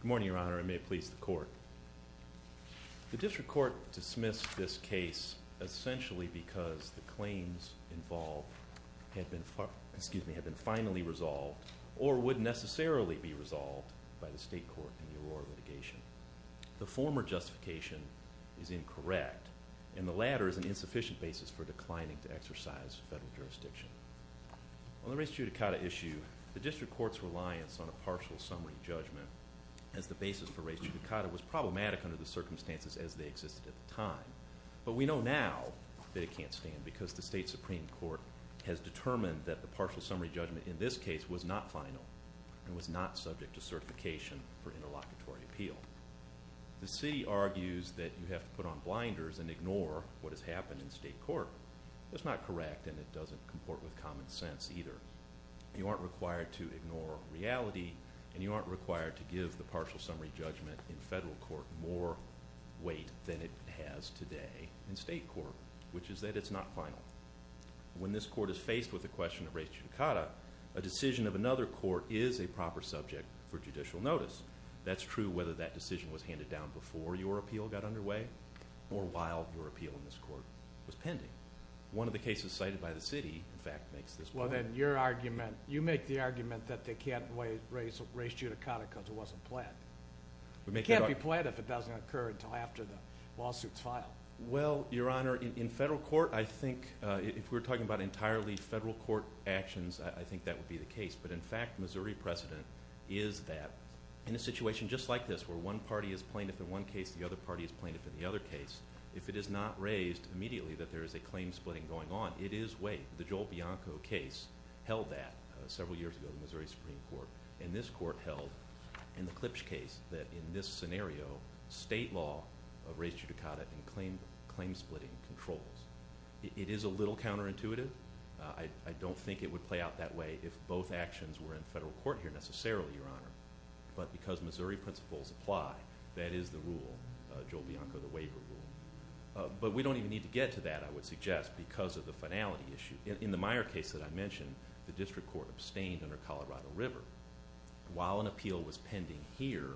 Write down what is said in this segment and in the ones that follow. Good morning, Your Honor, and may it please the Court. The District Court dismissed this case essentially because the claims involved had been finally resolved or would necessarily be resolved by the State Court in the Aurora litigation. The former justification is incorrect, and the latter is an insufficient basis for declining to exercise federal jurisdiction. On the race judicata issue, the District Court's reliance on a partial summary judgment as the basis for race judicata was problematic under the circumstances as they existed at the time. But we know now that it can't stand because the State Supreme Court has determined that the partial summary judgment in this case was not final and was not subject to certification for interlocutory appeal. The City argues that you have to put on blinders and ignore what has happened in State Court. That's not correct, and it doesn't comport with common sense either. You aren't required to ignore reality, and you aren't required to give the partial summary judgment in federal court more weight than it has today in State Court, which is that it's not final. When this court is faced with the question of race judicata, a decision of another court is a proper subject for judicial notice. That's true whether that decision was handed down before your appeal got underway or while your appeal in this court was pending. One of the cases cited by the City, in fact, makes this point. Well, then, you make the argument that they can't raise race judicata because it wasn't planned. It can't be planned if it doesn't occur until after the lawsuit is filed. Well, Your Honor, in federal court, I think if we're talking about entirely federal court actions, I think that would be the case. But, in fact, Missouri precedent is that in a situation just like this where one party is plaintiff in one case, the other party is plaintiff in the other case, if it is not raised immediately that there is a claim splitting going on, it is weight. The Joel Bianco case held that several years ago in Missouri Supreme Court, and this court held in the Klipsch case that in this scenario, state law of race judicata and claim splitting controls. It is a little counterintuitive. I don't think it would play out that way if both actions were in federal court here necessarily, Your Honor. But because Missouri principles apply, that is the rule, Joel Bianco, the waiver rule. But we don't even need to get to that, I would suggest, because of the finality issue. In the Meyer case that I mentioned, the district court abstained under Colorado River. While an appeal was pending here,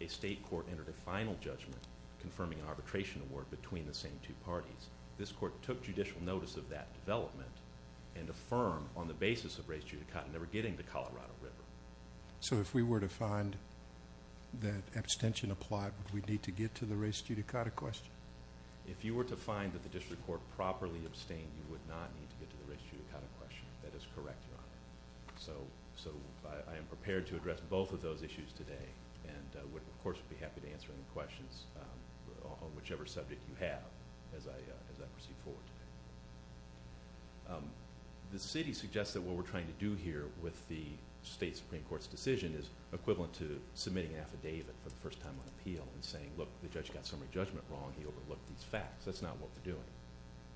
a state court entered a final judgment confirming an arbitration award between the same two parties. This court took judicial notice of that development and affirmed on the basis of race judicata never getting to Colorado River. So if we were to find that abstention applied, would we need to get to the race judicata question? If you were to find that the district court properly abstained, you would not need to get to the race judicata question. That is correct, Your Honor. So I am prepared to address both of those issues today, and would, of course, be happy to answer any questions on whichever subject you have as I proceed forward today. The city suggests that what we're trying to do here with the state Supreme Court's decision is equivalent to submitting an affidavit for the first time on appeal and saying, look, the judge got summary judgment wrong. He overlooked these facts. That's not what we're doing.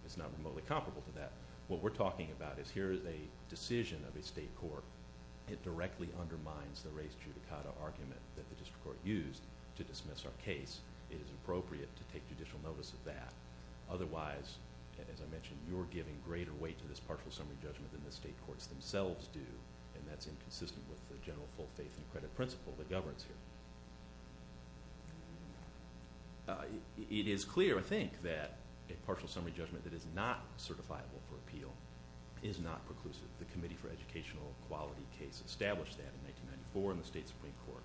It's not remotely comparable to that. What we're talking about is here is a decision of a state court. It directly undermines the race judicata argument that the district court used to dismiss our case. It is appropriate to take judicial notice of that. Otherwise, as I mentioned, you're giving greater weight to this partial summary judgment than the state courts themselves do, and that's inconsistent with the general full faith and credit principle that governs here. It is clear, I think, that a partial summary judgment that is not certifiable for appeal is not preclusive. The Committee for Educational Equality case established that in 1994 in the state Supreme Court.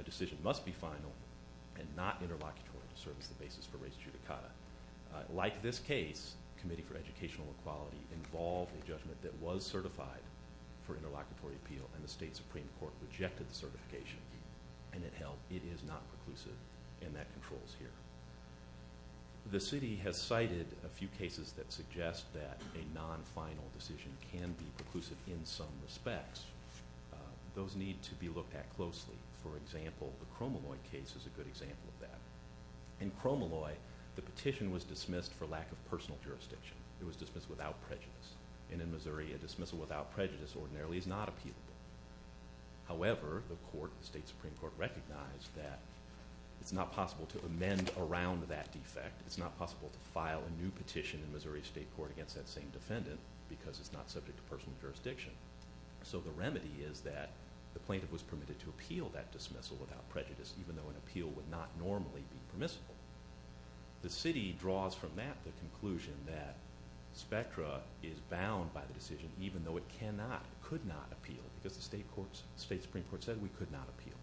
A decision must be final and not interlocutory to service the basis for race judicata. Like this case, Committee for Educational Equality involved a judgment that was certified for interlocutory appeal, and the state Supreme Court rejected the certification, and it held it is not preclusive, and that controls here. The city has cited a few cases that suggest that a non-final decision can be preclusive in some respects. Those need to be looked at closely. For example, the Cromalloy case is a good example of that. In Cromalloy, the petition was dismissed for lack of personal jurisdiction. It was dismissed without prejudice, and in Missouri, a dismissal without prejudice ordinarily is not appealable. However, the court, the state Supreme Court, recognized that it's not possible to amend around that defect. It's not possible to file a new petition in Missouri State Court against that same defendant because it's not subject to personal jurisdiction. So the remedy is that the plaintiff was permitted to appeal that dismissal without prejudice, even though an appeal would not normally be permissible. The city draws from that the conclusion that spectra is bound by the decision, even though it could not appeal because the state Supreme Court said we could not appeal.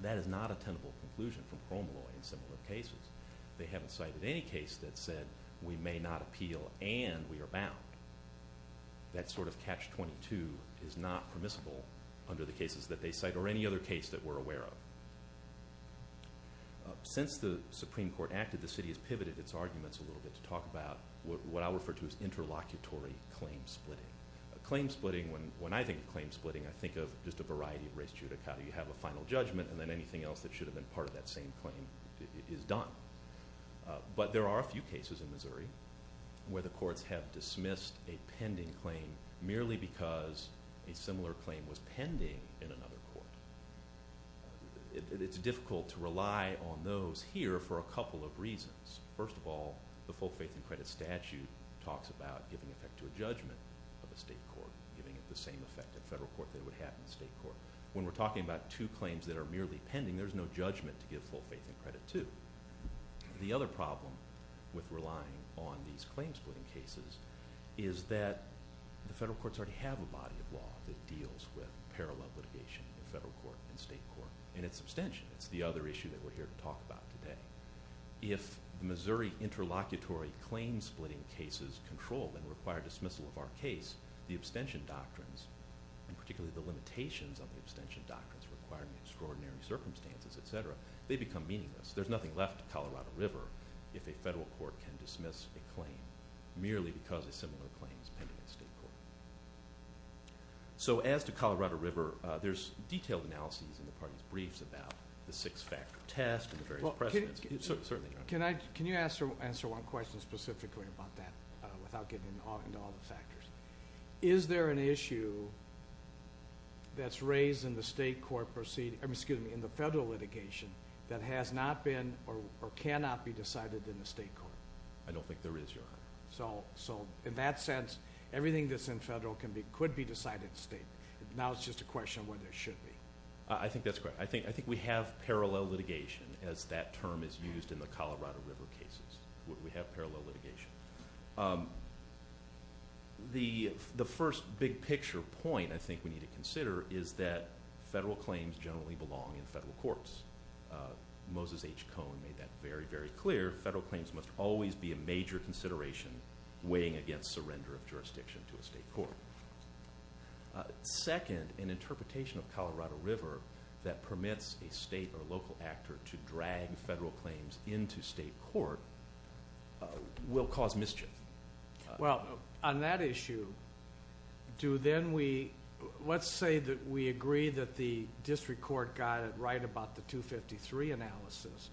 That is not a tenable conclusion from Cromalloy in similar cases. They haven't cited any case that said we may not appeal and we are bound. That sort of catch-22 is not permissible under the cases that they cite or any other case that we're aware of. Since the Supreme Court acted, the city has pivoted its arguments a little bit to talk about what I refer to as interlocutory claim splitting. Claim splitting, when I think of claim splitting, I think of just a variety of res judicata. You have a final judgment, and then anything else that should have been part of that same claim is done. But there are a few cases in Missouri where the courts have dismissed a pending claim merely because a similar claim was pending in another court. It's difficult to rely on those here for a couple of reasons. First of all, the full faith and credit statute talks about giving effect to a judgment of a state court, giving it the same effect in a federal court that it would have in a state court. When we're talking about two claims that are merely pending, there's no judgment to give full faith and credit to. The other problem with relying on these claim splitting cases is that the federal courts already have a body of law that deals with parallel litigation in the federal court and state court, and it's abstention. It's the other issue that we're here to talk about today. If Missouri interlocutory claim splitting cases control and require dismissal of our case, the abstention doctrines, and particularly the limitations on the abstention doctrines requiring extraordinary circumstances, etc., they become meaningless. There's nothing left of Colorado River if a federal court can dismiss a claim merely because a similar claim is pending in a state court. So as to Colorado River, there's detailed analyses in the parties' briefs about the six-factor test and the various precedents. Certainly, Your Honor. Can you answer one question specifically about that without getting into all the factors? Is there an issue that's raised in the federal litigation that has not been or cannot be decided in the state court? I don't think there is, Your Honor. So in that sense, everything that's in federal could be decided in the state. Now it's just a question of whether it should be. I think that's correct. I think we have parallel litigation, as that term is used in the Colorado River cases. We have parallel litigation. The first big-picture point I think we need to consider is that federal claims generally belong in federal courts. Moses H. Cohn made that very, very clear. Federal claims must always be a major consideration weighing against surrender of jurisdiction to a state court. Second, an interpretation of Colorado River that permits a state or local actor to drag federal claims into state court will cause mischief. Well, on that issue, let's say that we agree that the district court got it right about the 253 analysis.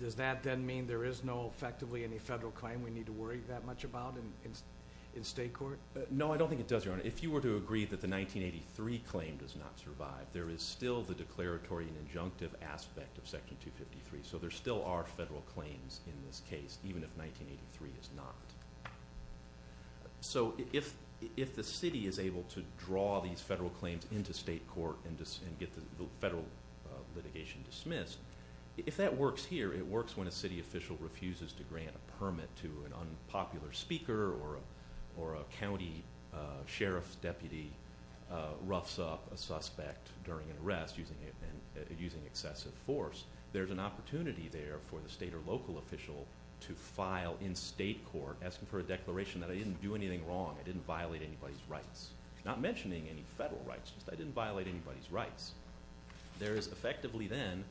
Does that then mean there is no effectively any federal claim we need to worry that much about in state court? No, I don't think it does, Your Honor. If you were to agree that the 1983 claim does not survive, there is still the declaratory and injunctive aspect of Section 253. So there still are federal claims in this case, even if 1983 is not. So if the city is able to draw these federal claims into state court and get the federal litigation dismissed, if that works here, it works when a city official refuses to grant a permit to an unpopular speaker or a county sheriff's deputy roughs up a suspect during an arrest using excessive force. There's an opportunity there for the state or local official to file in state court asking for a declaration that I didn't do anything wrong, I didn't violate anybody's rights, not mentioning any federal rights, just I didn't violate anybody's rights. There is effectively then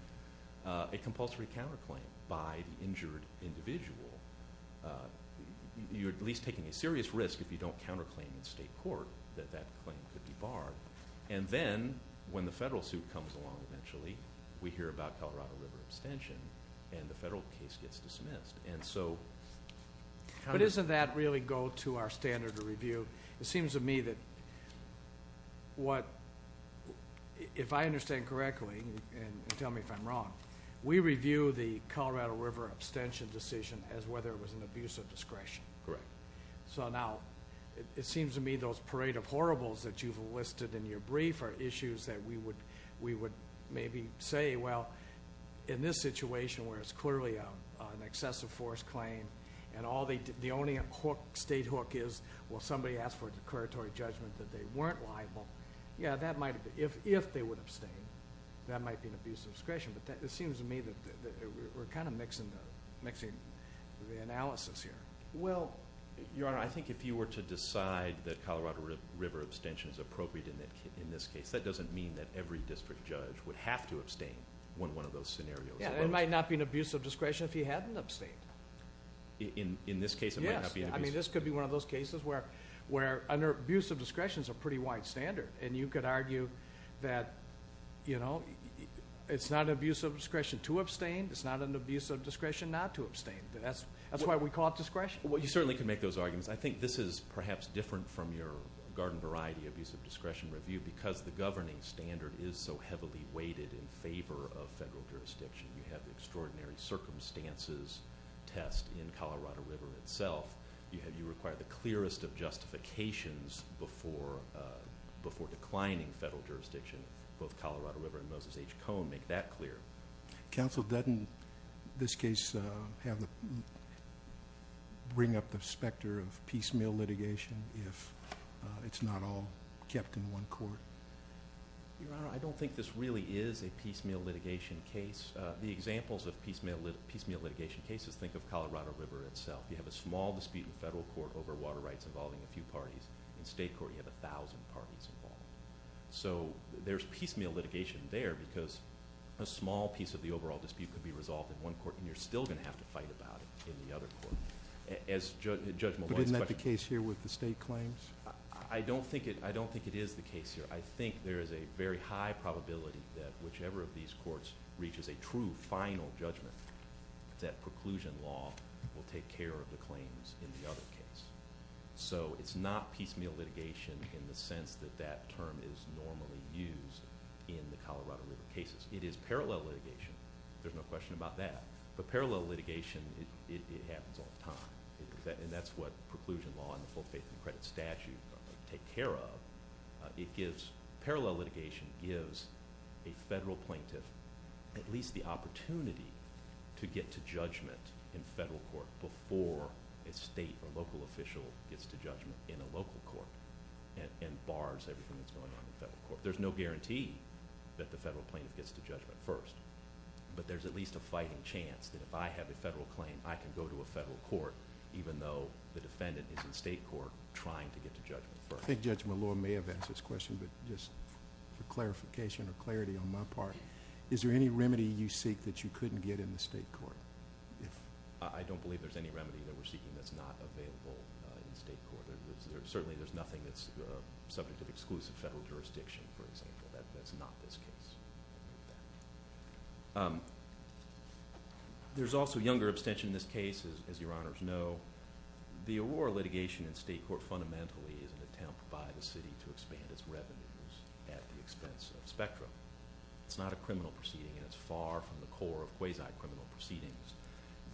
a compulsory counterclaim by the injured individual. You're at least taking a serious risk if you don't counterclaim in state court that that claim could be barred. And then when the federal suit comes along eventually, we hear about Colorado River abstention, and the federal case gets dismissed. But doesn't that really go to our standard of review? It seems to me that if I understand correctly, and tell me if I'm wrong, we review the Colorado River abstention decision as whether it was an abuse of discretion. Correct. So now, it seems to me those parade of horribles that you've listed in your brief are issues that we would maybe say, well, in this situation where it's clearly an excessive force claim and the only state hook is, well, somebody asked for a declaratory judgment that they weren't liable. Yeah, that might be, if they would abstain, that might be an abuse of discretion. But it seems to me that we're kind of mixing the analysis here. Well, Your Honor, I think if you were to decide that Colorado River abstention is appropriate in this case, that doesn't mean that every district judge would have to abstain when one of those scenarios arose. Yeah, it might not be an abuse of discretion if he hadn't abstained. In this case, it might not be an abuse of discretion. Yes, I mean, this could be one of those cases where an abuse of discretion is a pretty wide standard. And you could argue that, you know, it's not an abuse of discretion to abstain. It's not an abuse of discretion not to abstain. That's why we call it discretion. Well, you certainly could make those arguments. I think this is perhaps different from your garden variety abuse of discretion review because the governing standard is so heavily weighted in favor of federal jurisdiction. You have extraordinary circumstances test in Colorado River itself. You require the clearest of justifications before declining federal jurisdiction. Both Colorado River and Moses H. Cone make that clear. Counsel, doesn't this case bring up the specter of piecemeal litigation if it's not all kept in one court? Your Honor, I don't think this really is a piecemeal litigation case. The examples of piecemeal litigation cases, think of Colorado River itself. You have a small dispute in federal court over water rights involving a few parties. In state court, you have 1,000 parties involved. So there's piecemeal litigation there because a small piece of the overall dispute could be resolved in one court, and you're still going to have to fight about it in the other court. But isn't that the case here with the state claims? I don't think it is the case here. I think there is a very high probability that whichever of these courts reaches a true final judgment, that preclusion law will take care of the claims in the other case. So it's not piecemeal litigation in the sense that that term is normally used in the Colorado River cases. It is parallel litigation. There's no question about that. But parallel litigation, it happens all the time. And that's what preclusion law and the full faith and credit statute take care of. Parallel litigation gives a federal plaintiff at least the opportunity to get to judgment in federal court before a state or local official gets to judgment in a local court and bars everything that's going on in federal court. There's no guarantee that the federal plaintiff gets to judgment first. But there's at least a fighting chance that if I have a federal claim, I can go to a federal court, even though the defendant is in state court trying to get to judgment first. I think Judge Malone may have asked this question, but just for clarification or clarity on my part, is there any remedy you seek that you couldn't get in the state court? I don't believe there's any remedy that we're seeking that's not available in state court. Certainly there's nothing that's subject to exclusive federal jurisdiction, for example. That's not this case. There's also younger abstention in this case, as your honors know. The Aurora litigation in state court fundamentally is an attempt by the city to expand its revenues at the expense of Spectra. It's not a criminal proceeding, and it's far from the core of quasi-criminal proceedings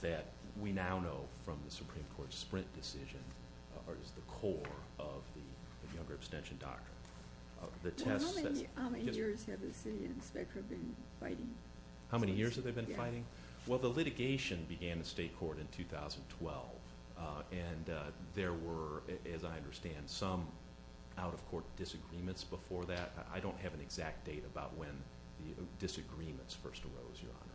that we now know from the Supreme Court's Sprint decision is the core of the younger abstention doctrine. How many years have the city and Spectra been fighting? How many years have they been fighting? Well, the litigation began in state court in 2012, and there were, as I understand, some out-of-court disagreements before that. I don't have an exact date about when the disagreements first arose, your honor.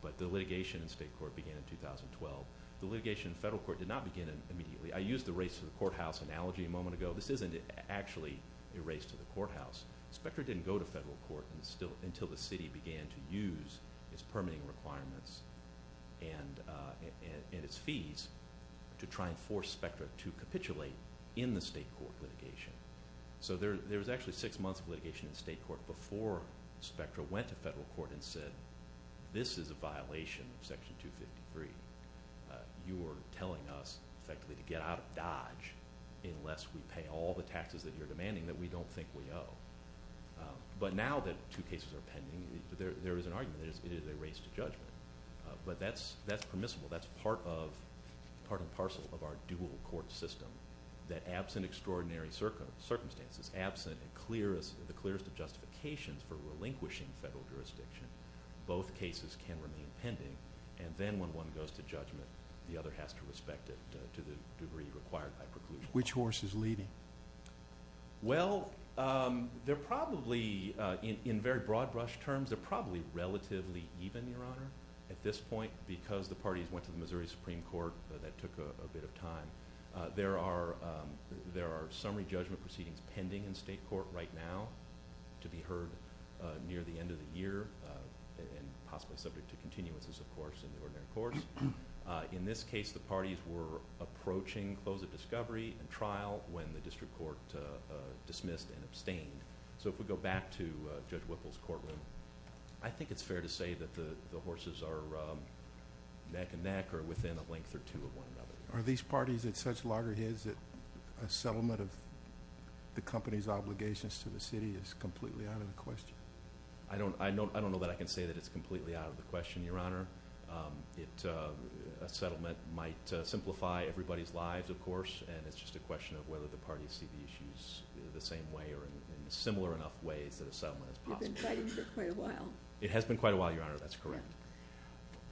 But the litigation in state court began in 2012. The litigation in federal court did not begin immediately. I used the race to the courthouse analogy a moment ago. This isn't actually a race to the courthouse. Spectra didn't go to federal court until the city began to use its permitting requirements and its fees to try and force Spectra to capitulate in the state court litigation. So there was actually six months of litigation in state court before Spectra went to federal court and said this is a violation of Section 253. You are telling us effectively to get out of Dodge unless we pay all the taxes that you're demanding that we don't think we owe. But now that two cases are pending, there is an argument that it is a race to judgment. But that's permissible. That's part and parcel of our dual court system that absent extraordinary circumstances, absent the clearest of justifications for relinquishing federal jurisdiction, both cases can remain pending. And then when one goes to judgment, the other has to respect it to the degree required by preclusion. Which horse is leading? Well, they're probably, in very broad brush terms, they're probably relatively even, your honor, at this point because the parties went to the Missouri Supreme Court, that took a bit of time. There are summary judgment proceedings pending in state court right now to be heard near the end of the year and possibly subject to continuances, of course, in the ordinary course. In this case, the parties were approaching close of discovery and trial when the district court dismissed and abstained. So if we go back to Judge Whipple's courtroom, I think it's fair to say that the horses are neck and neck or within a length or two of one another. Are these parties at such loggerheads that a settlement of the company's obligations to the city is completely out of the question? I don't know that I can say that it's completely out of the question, your honor. A settlement might simplify everybody's lives, of course, and it's just a question of whether the parties see the issues the same way or in similar enough ways that a settlement is possible. You've been fighting for quite a while. It has been quite a while, your honor. That's correct.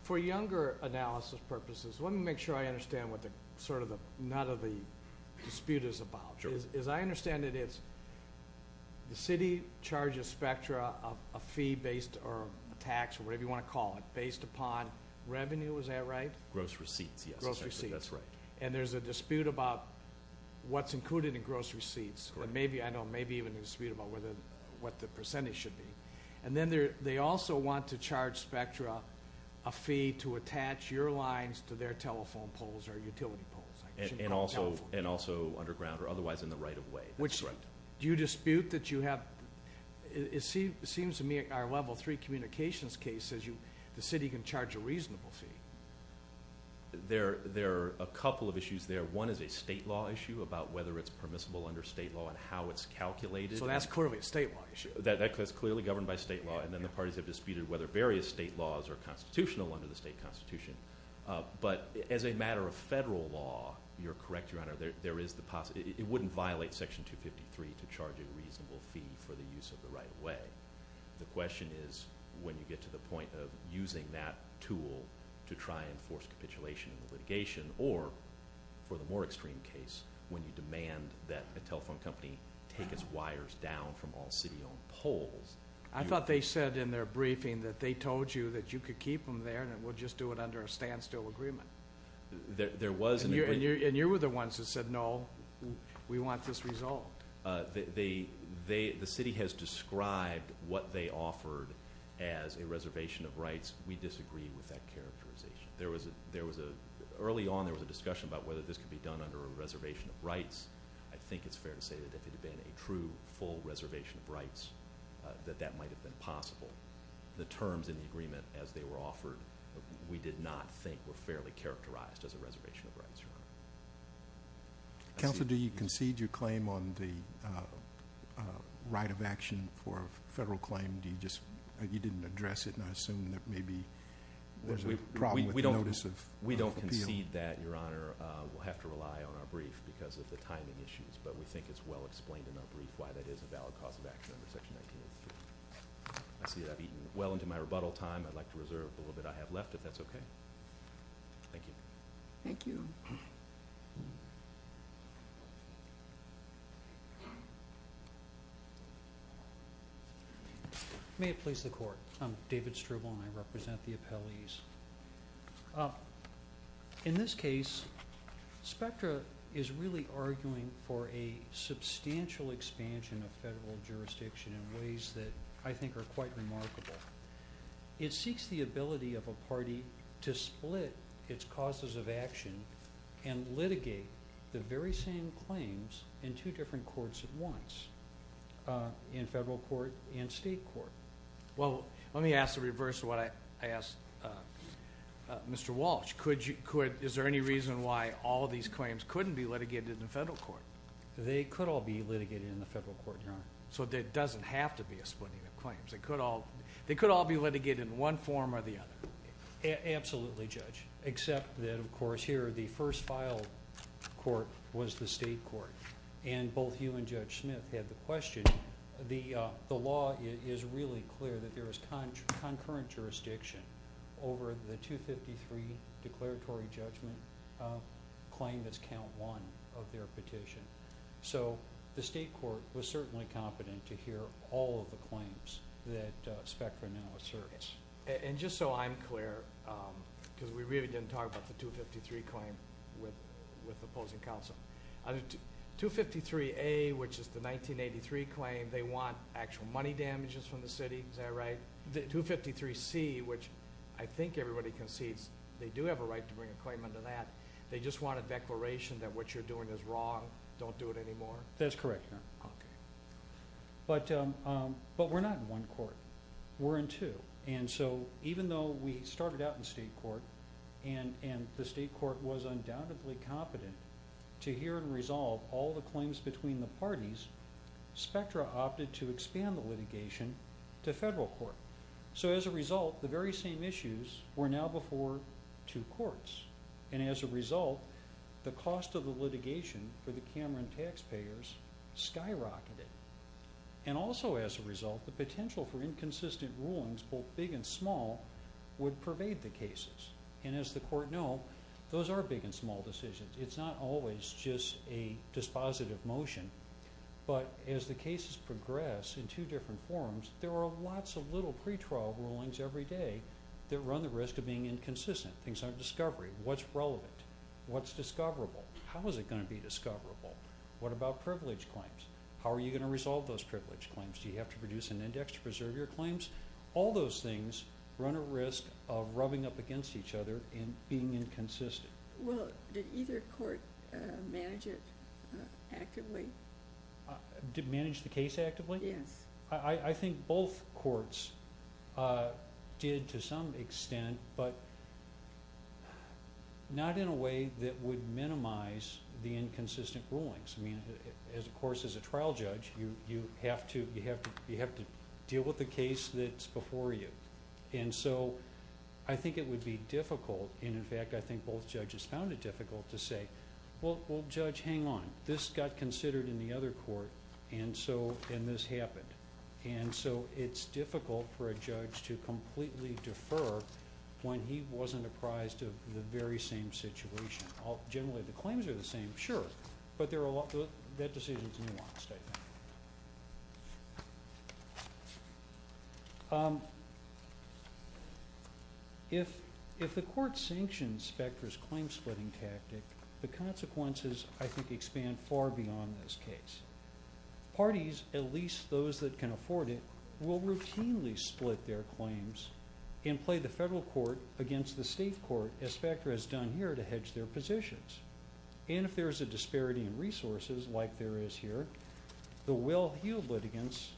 For younger analysis purposes, let me make sure I understand what sort of none of the dispute is about. Sure. As I understand it, it's the city charges spectra of a fee based or a tax or whatever you want to call it based upon revenue, is that right? Gross receipts, yes. Gross receipts. That's right. And there's a dispute about what's included in gross receipts. I know maybe even a dispute about what the percentage should be. And then they also want to charge spectra a fee to attach your lines to their telephone poles or utility poles. And also underground or otherwise in the right of way. Which do you dispute that you have? It seems to me our level three communications case says the city can charge a reasonable fee. There are a couple of issues there. One is a state law issue about whether it's permissible under state law and how it's calculated. So that's clearly a state law issue. That's clearly governed by state law. And then the parties have disputed whether various state laws are constitutional under the state constitution. But as a matter of federal law, you're correct, your honor, there is the possibility. It wouldn't violate Section 253 to charge a reasonable fee for the use of the right of way. The question is when you get to the point of using that tool to try and force capitulation in litigation. Or for the more extreme case, when you demand that a telephone company take its wires down from all city-owned poles. I thought they said in their briefing that they told you that you could keep them there and we'll just do it under a standstill agreement. There was an agreement. And you were the ones that said, no, we want this resolved. The city has described what they offered as a reservation of rights. We disagree with that characterization. Early on there was a discussion about whether this could be done under a reservation of rights. I think it's fair to say that if it had been a true, full reservation of rights, that that might have been possible. The terms in the agreement as they were offered, we did not think were fairly characterized as a reservation of rights, your honor. Counsel, do you concede your claim on the right of action for a federal claim? You didn't address it, and I assume that maybe there's a problem with the notice of appeal. We don't concede that, your honor. We'll have to rely on our brief because of the timing issues. But we think it's well explained in our brief why that is a valid cause of action under Section 1983. I see that I've eaten well into my rebuttal time. I'd like to reserve the little bit I have left, if that's okay. Thank you. Thank you. May it please the Court. I'm David Struble, and I represent the appellees. In this case, Spectra is really arguing for a substantial expansion of federal jurisdiction in ways that I think are quite remarkable. It seeks the ability of a party to split its causes of action and litigate the very same claims in two different courts at once, in federal court and state court. Well, let me ask the reverse of what I asked Mr. Walsh. Is there any reason why all of these claims couldn't be litigated in federal court? They could all be litigated in the federal court, your honor. So there doesn't have to be a splitting of claims. They could all be litigated in one form or the other. Absolutely, Judge, except that, of course, here the first filed court was the state court. And both you and Judge Smith had the question. The law is really clear that there is concurrent jurisdiction over the 253 declaratory judgment claim that's count one of their petition. So the state court was certainly competent to hear all of the claims that Spectra now asserts. And just so I'm clear, because we really didn't talk about the 253 claim with opposing counsel. 253A, which is the 1983 claim, they want actual money damages from the city. Is that right? 253C, which I think everybody concedes they do have a right to bring a claim under that. They just want a declaration that what you're doing is wrong. Don't do it anymore. That's correct, your honor. Okay. But we're not in one court. We're in two. And so even though we started out in state court and the state court was undoubtedly competent to hear and resolve all the claims between the parties, Spectra opted to expand the litigation to federal court. So as a result, the very same issues were now before two courts. And as a result, the cost of the litigation for the Cameron taxpayers skyrocketed. And also as a result, the potential for inconsistent rulings, both big and small, would pervade the cases. And as the court know, those are big and small decisions. It's not always just a dispositive motion. But as the cases progress in two different forms, there are lots of little pretrial rulings every day that run the risk of being inconsistent. Things aren't discovery. What's relevant? What's discoverable? How is it going to be discoverable? What about privilege claims? How are you going to resolve those privilege claims? Do you have to produce an index to preserve your claims? All those things run a risk of rubbing up against each other and being inconsistent. Well, did either court manage it actively? Did manage the case actively? Yes. I think both courts did to some extent, but not in a way that would minimize the inconsistent rulings. I mean, of course, as a trial judge, you have to deal with the case that's before you. And so I think it would be difficult. And, in fact, I think both judges found it difficult to say, well, Judge, hang on. This got considered in the other court, and this happened. And so it's difficult for a judge to completely defer when he wasn't apprised of the very same situation. Generally, the claims are the same, sure, but that decision is nuanced, I think. If the court sanctions Specter's claim-splitting tactic, the consequences, I think, expand far beyond this case. Parties, at least those that can afford it, will routinely split their claims and play the federal court against the state court, as Specter has done here, to hedge their positions. And if there's a disparity in resources, like there is here, the well-heeled litigants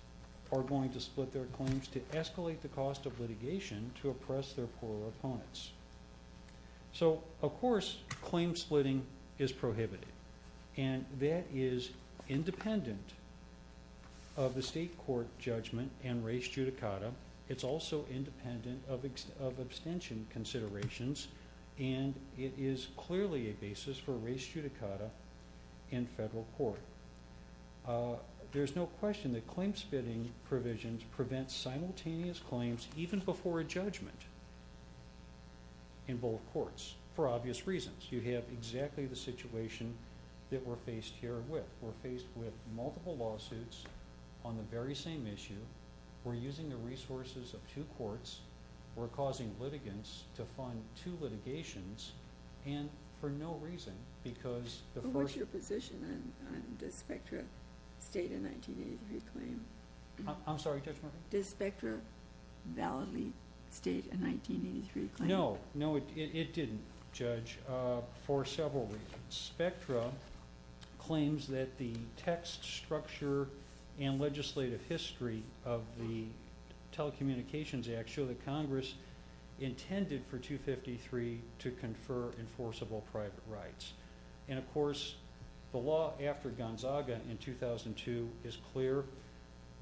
are going to split their claims to escalate the cost of litigation to oppress their poorer opponents. So, of course, claim-splitting is prohibited. And that is independent of the state court judgment and res judicata. It's also independent of abstention considerations. And it is clearly a basis for res judicata in federal court. There's no question that claim-splitting provisions prevent simultaneous claims, even before a judgment in both courts, for obvious reasons. You have exactly the situation that we're faced here with. We're faced with multiple lawsuits on the very same issue. We're using the resources of two courts. We're causing litigants to fund two litigations, and for no reason, because the first- But what's your position on does Spectra state a 1983 claim? I'm sorry, Judge Murphy? Does Spectra validly state a 1983 claim? No, no, it didn't, Judge, for several reasons. Spectra claims that the text, structure, and legislative history of the Telecommunications Act show that Congress intended for 253 to confer enforceable private rights. And, of course, the law after Gonzaga in 2002 is clear.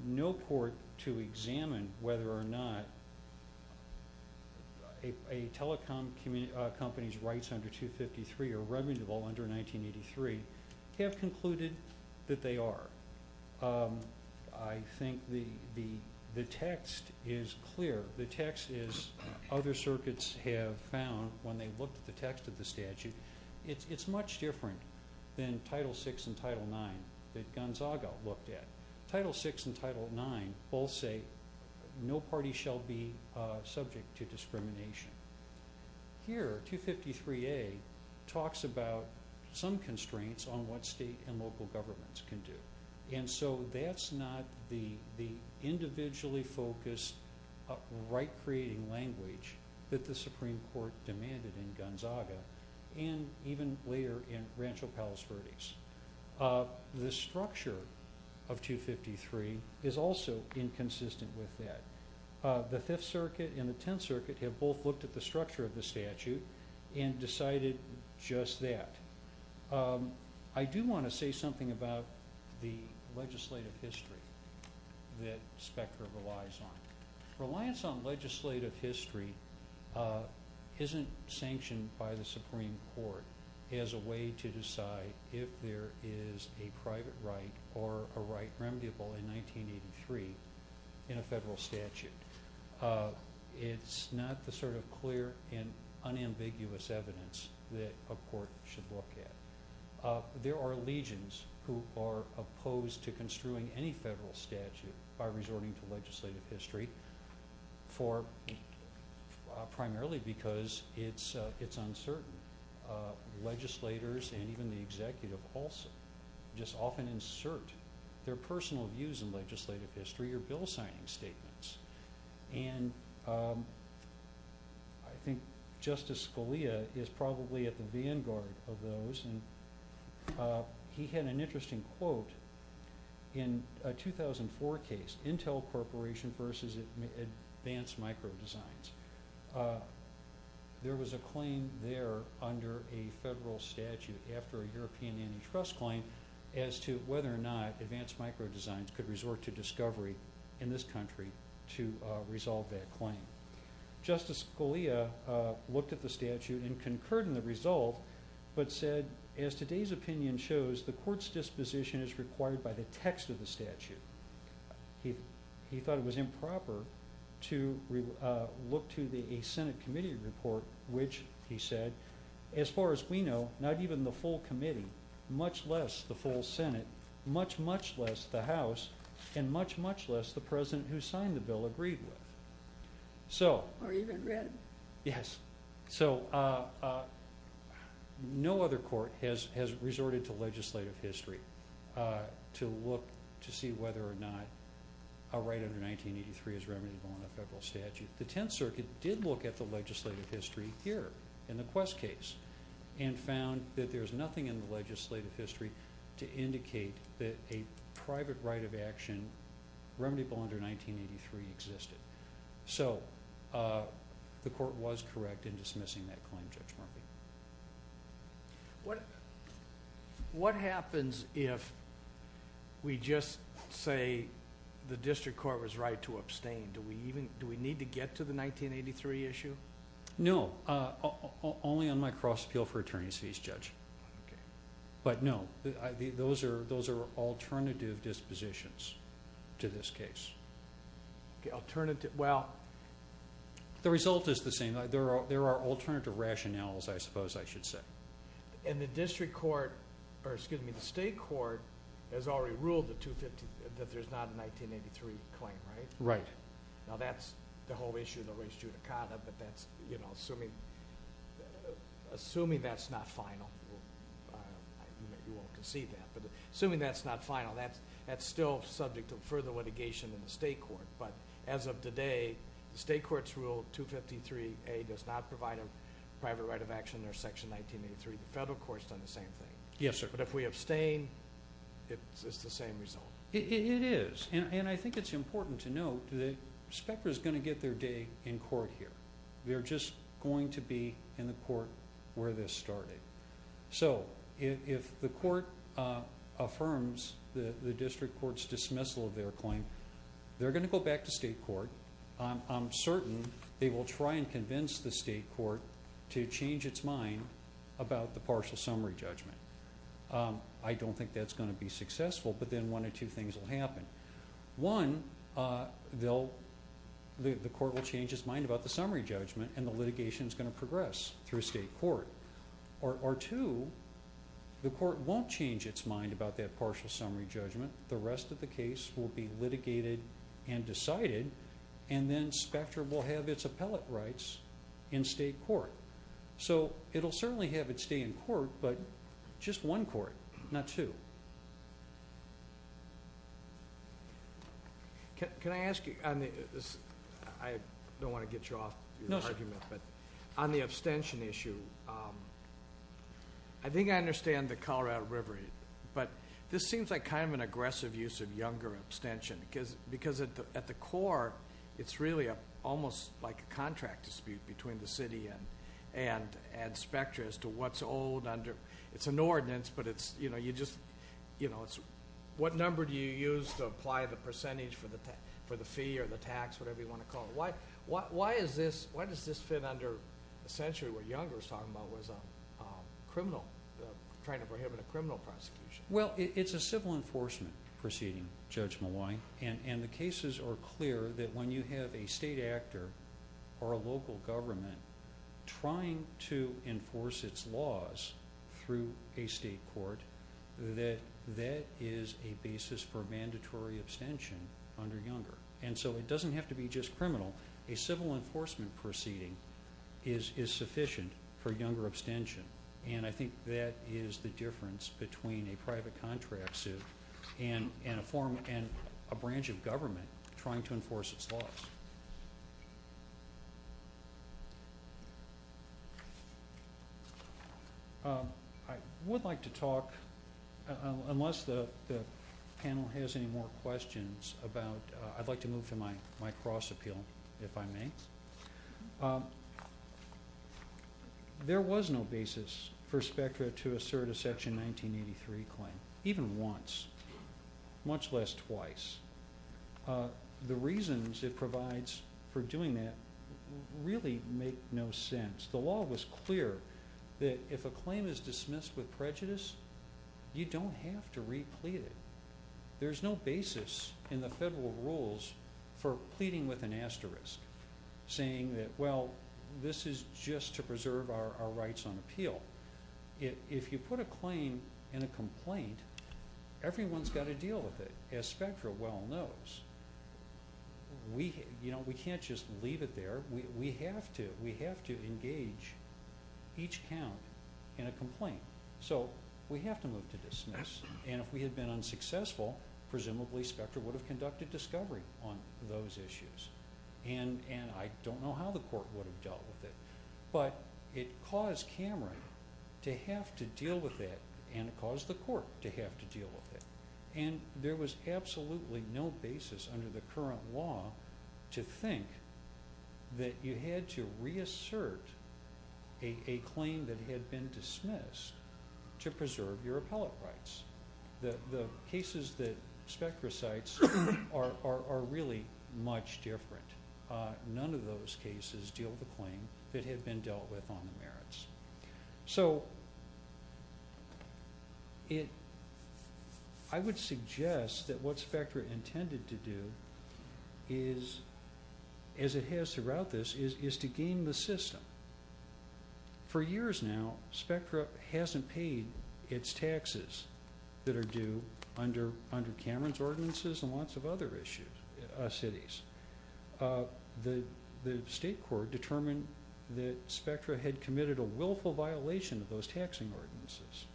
No court to examine whether or not a telecom company's rights under 253 or revenue under 1983 have concluded that they are. I think the text is clear. The text is, other circuits have found when they looked at the text of the statute, it's much different than Title VI and Title IX that Gonzaga looked at. Title VI and Title IX both say no party shall be subject to discrimination. Here, 253A talks about some constraints on what state and local governments can do. And so that's not the individually focused, right-creating language that the Supreme Court demanded in Gonzaga. And even later in Rancho Palos Verdes. The structure of 253 is also inconsistent with that. The Fifth Circuit and the Tenth Circuit have both looked at the structure of the statute and decided just that. I do want to say something about the legislative history that Spectra relies on. Reliance on legislative history isn't sanctioned by the Supreme Court as a way to decide if there is a private right or a right remediable in 1983 in a federal statute. It's not the sort of clear and unambiguous evidence that a court should look at. There are legions who are opposed to construing any federal statute by resorting to legislative history primarily because it's uncertain. Legislators and even the executive also just often insert their personal views in legislative history or bill signing statements. And I think Justice Scalia is probably at the vanguard of those. He had an interesting quote in a 2004 case, Intel Corporation versus Advanced Microdesigns. There was a claim there under a federal statute after a European antitrust claim as to whether or not Advanced Microdesigns could resort to discovery in this country to resolve that claim. Justice Scalia looked at the statute and concurred in the result but said, as today's opinion shows, the court's disposition is required by the text of the statute. He thought it was improper to look to a Senate committee report which, he said, as far as we know, not even the full committee, much less the full Senate, much, much less the House, and much, much less the President who signed the bill agreed with. Or even read. Yes. So, no other court has resorted to legislative history to look to see whether or not a right under 1983 is remediable in a federal statute. The Tenth Circuit did look at the legislative history here in the Quest case and found that there's nothing in the legislative history to indicate that a private right of action, remediable under 1983, existed. So, the court was correct in dismissing that claim, Judge Murphy. What happens if we just say the district court was right to abstain? Do we need to get to the 1983 issue? No. Only on my cross appeal for attorney's fees, Judge. Okay. But, no. Those are alternative dispositions to this case. Okay. Alternative. Well. The result is the same. There are alternative rationales, I suppose I should say. And the district court, or excuse me, the state court has already ruled that there's not a 1983 claim, right? Right. Now, that's the whole issue of the res judicata, but that's, you know, assuming that's not final. You won't concede that. But, assuming that's not final, that's still subject to further litigation in the state court. But, as of today, the state court's Rule 253A does not provide a private right of action under Section 1983. The federal court's done the same thing. Yes, sir. But, if we abstain, it's the same result. It is. And I think it's important to note that Specter is going to get their day in court here. They're just going to be in the court where this started. So, if the court affirms the district court's dismissal of their claim, they're going to go back to state court. I'm certain they will try and convince the state court to change its mind about the partial summary judgment. I don't think that's going to be successful, but then one of two things will happen. One, the court will change its mind about the summary judgment, and the litigation is going to progress through state court. Or, two, the court won't change its mind about that partial summary judgment. The rest of the case will be litigated and decided, and then Specter will have its appellate rights in state court. So, it will certainly have its day in court, but just one court, not two. Can I ask you, I don't want to get you off your argument, but on the abstention issue, I think I understand the Colorado River, but this seems like kind of an aggressive use of younger abstention, because at the core, it's really almost like a contract dispute between the city and Specter as to what's old. It's an ordinance, but what number do you use to apply the percentage for the fee or the tax, whatever you want to call it? Why does this fit under essentially what Younger was talking about, trying to prohibit a criminal prosecution? Well, it's a civil enforcement proceeding, judgment-wise, and the cases are clear that when you have a state actor or a local government trying to enforce its laws through a state court, that that is a basis for mandatory abstention under Younger. And so, it doesn't have to be just criminal. A civil enforcement proceeding is sufficient for Younger abstention, and I think that is the difference between a private contract suit and a branch of government trying to enforce its laws. I would like to talk, unless the panel has any more questions, I'd like to move to my cross appeal, if I may. There was no basis for Specter to assert a Section 1983 claim, even once, much less twice. The reasons it provides for doing that really make no sense. The law was clear that if a claim is dismissed with prejudice, you don't have to replete it. There's no basis in the federal rules for pleading with an asterisk. Saying that, well, this is just to preserve our rights on appeal. If you put a claim in a complaint, everyone's got to deal with it. As Specter well knows, we can't just leave it there. We have to engage each count in a complaint. So, we have to move to dismiss. And if we had been unsuccessful, presumably Specter would have conducted discovery on those issues. And I don't know how the court would have dealt with it. But it caused Cameron to have to deal with it, and it caused the court to have to deal with it. And there was absolutely no basis under the current law to think that you had to reassert a claim that had been dismissed to preserve your appellate rights. The cases that Specter cites are really much different. None of those cases deal with a claim that had been dealt with on the merits. So, I would suggest that what Specter intended to do, as it has throughout this, is to game the system. For years now, Specter hasn't paid its taxes that are due under Cameron's ordinances and lots of other cities. The state court determined that Specter had committed a willful violation of those taxing ordinances.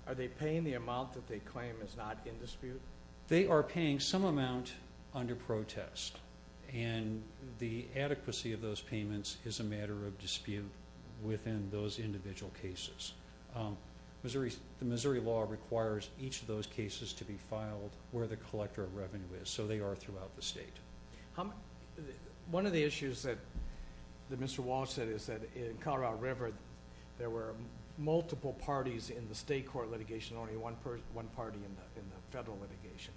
Are they paying the amount that they claim is not in dispute? They are paying some amount under protest. And the adequacy of those payments is a matter of dispute within those individual cases. The Missouri law requires each of those cases to be filed where the collector of revenue is. One of the issues that Mr. Walsh said is that in Colorado River, there were multiple parties in the state court litigation, only one party in the federal litigation.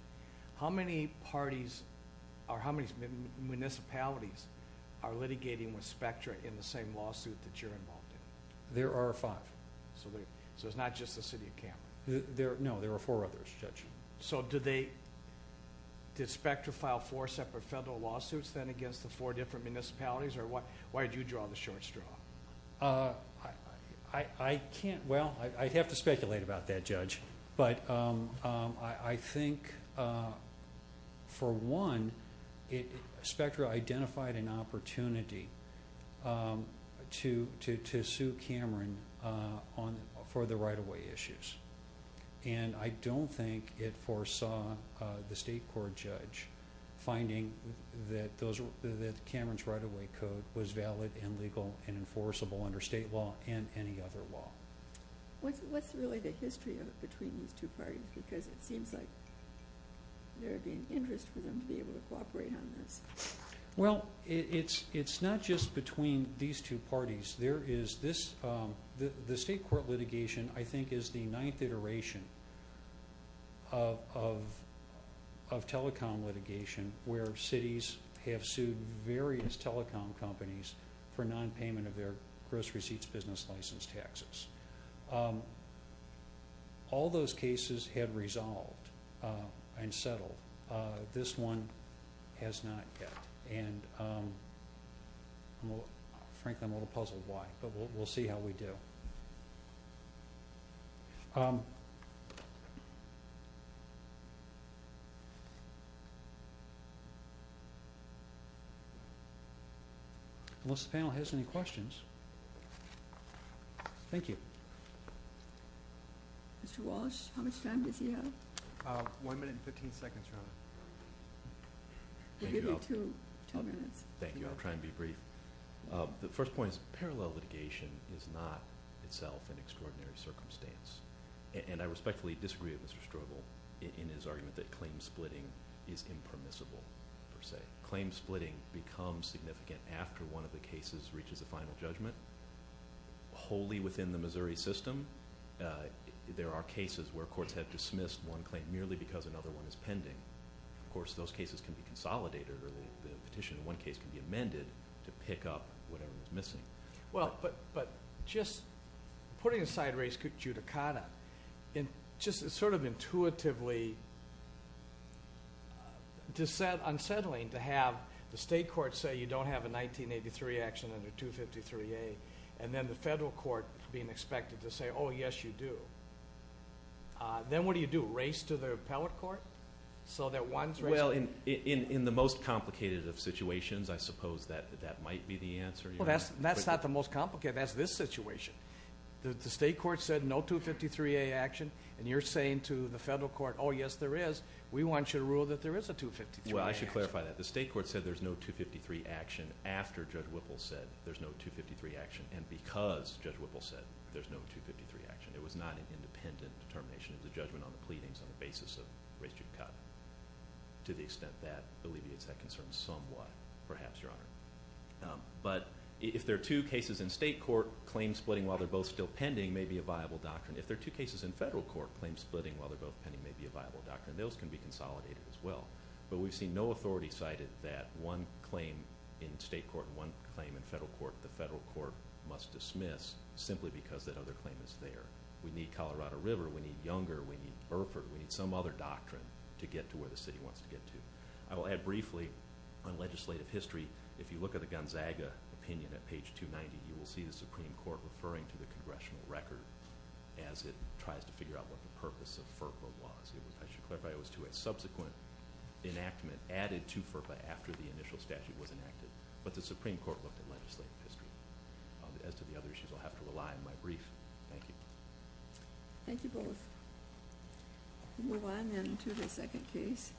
How many municipalities are litigating with Specter in the same lawsuit that you're involved in? There are five. So, it's not just the city of Cameron? No, there are four others, Judge. So, did Specter file four separate federal lawsuits, then, against the four different municipalities? Or why did you draw the short straw? I can't. Well, I'd have to speculate about that, Judge. But I think, for one, Specter identified an opportunity to sue Cameron for the right-of-way issues. And I don't think it foresaw the state court judge finding that Cameron's right-of-way code was valid and legal and enforceable under state law and any other law. What's really the history between these two parties? Because it seems like there would be an interest for them to be able to cooperate on this. Well, it's not just between these two parties. The state court litigation, I think, is the ninth iteration of telecom litigation, where cities have sued various telecom companies for nonpayment of their gross receipts business license taxes. All those cases had resolved and settled. This one has not yet. And, frankly, I'm a little puzzled why. But we'll see how we do. Unless the panel has any questions. Thank you. Mr. Walsh, how much time does he have? One minute and 15 seconds, Your Honor. We'll give you two minutes. Thank you. I'll try and be brief. The first point is parallel litigation is not itself an extraordinary circumstance. And I respectfully disagree with Mr. Strobel in his argument that claim splitting is impermissible, per se. Claim splitting becomes significant after one of the cases reaches a final judgment. Wholly within the Missouri system, there are cases where courts have dismissed one claim merely because another one is pending. Of course, those cases can be consolidated, or the petition in one case can be amended to pick up whatever was missing. But just putting aside race judicata, it's sort of intuitively unsettling to have the state courts say you don't have a 1983 action under 253A, and then the federal court being expected to say, oh, yes, you do. Then what do you do? Race to the appellate court? Well, in the most complicated of situations, I suppose that might be the answer. That's not the most complicated. That's this situation. The state court said no 253A action, and you're saying to the federal court, oh, yes, there is. We want you to rule that there is a 253A action. Well, I should clarify that. The state court said there's no 253 action after Judge Whipple said there's no 253 action, and because Judge Whipple said there's no 253 action. It was not an independent determination. It was a judgment on the pleadings on the basis of race judicata to the extent that alleviates that concern somewhat, perhaps, Your Honor. But if there are two cases in state court, claims splitting while they're both still pending may be a viable doctrine. If there are two cases in federal court, claims splitting while they're both pending may be a viable doctrine. Those can be consolidated as well. But we've seen no authority cited that one claim in state court, one claim in federal court, the federal court must dismiss simply because that other claim is there. We need Colorado River. We need Younger. We need Burford. We need some other doctrine to get to where the city wants to get to. I will add briefly on legislative history. If you look at the Gonzaga opinion at page 290, you will see the Supreme Court referring to the congressional record as it tries to figure out what the purpose of FERPA was. I should clarify it was to a subsequent enactment added to FERPA after the initial statute was enacted. But the Supreme Court looked at legislative history. As to the other issues, I'll have to rely on my brief. Thank you. Thank you both. We'll move on then to the second case.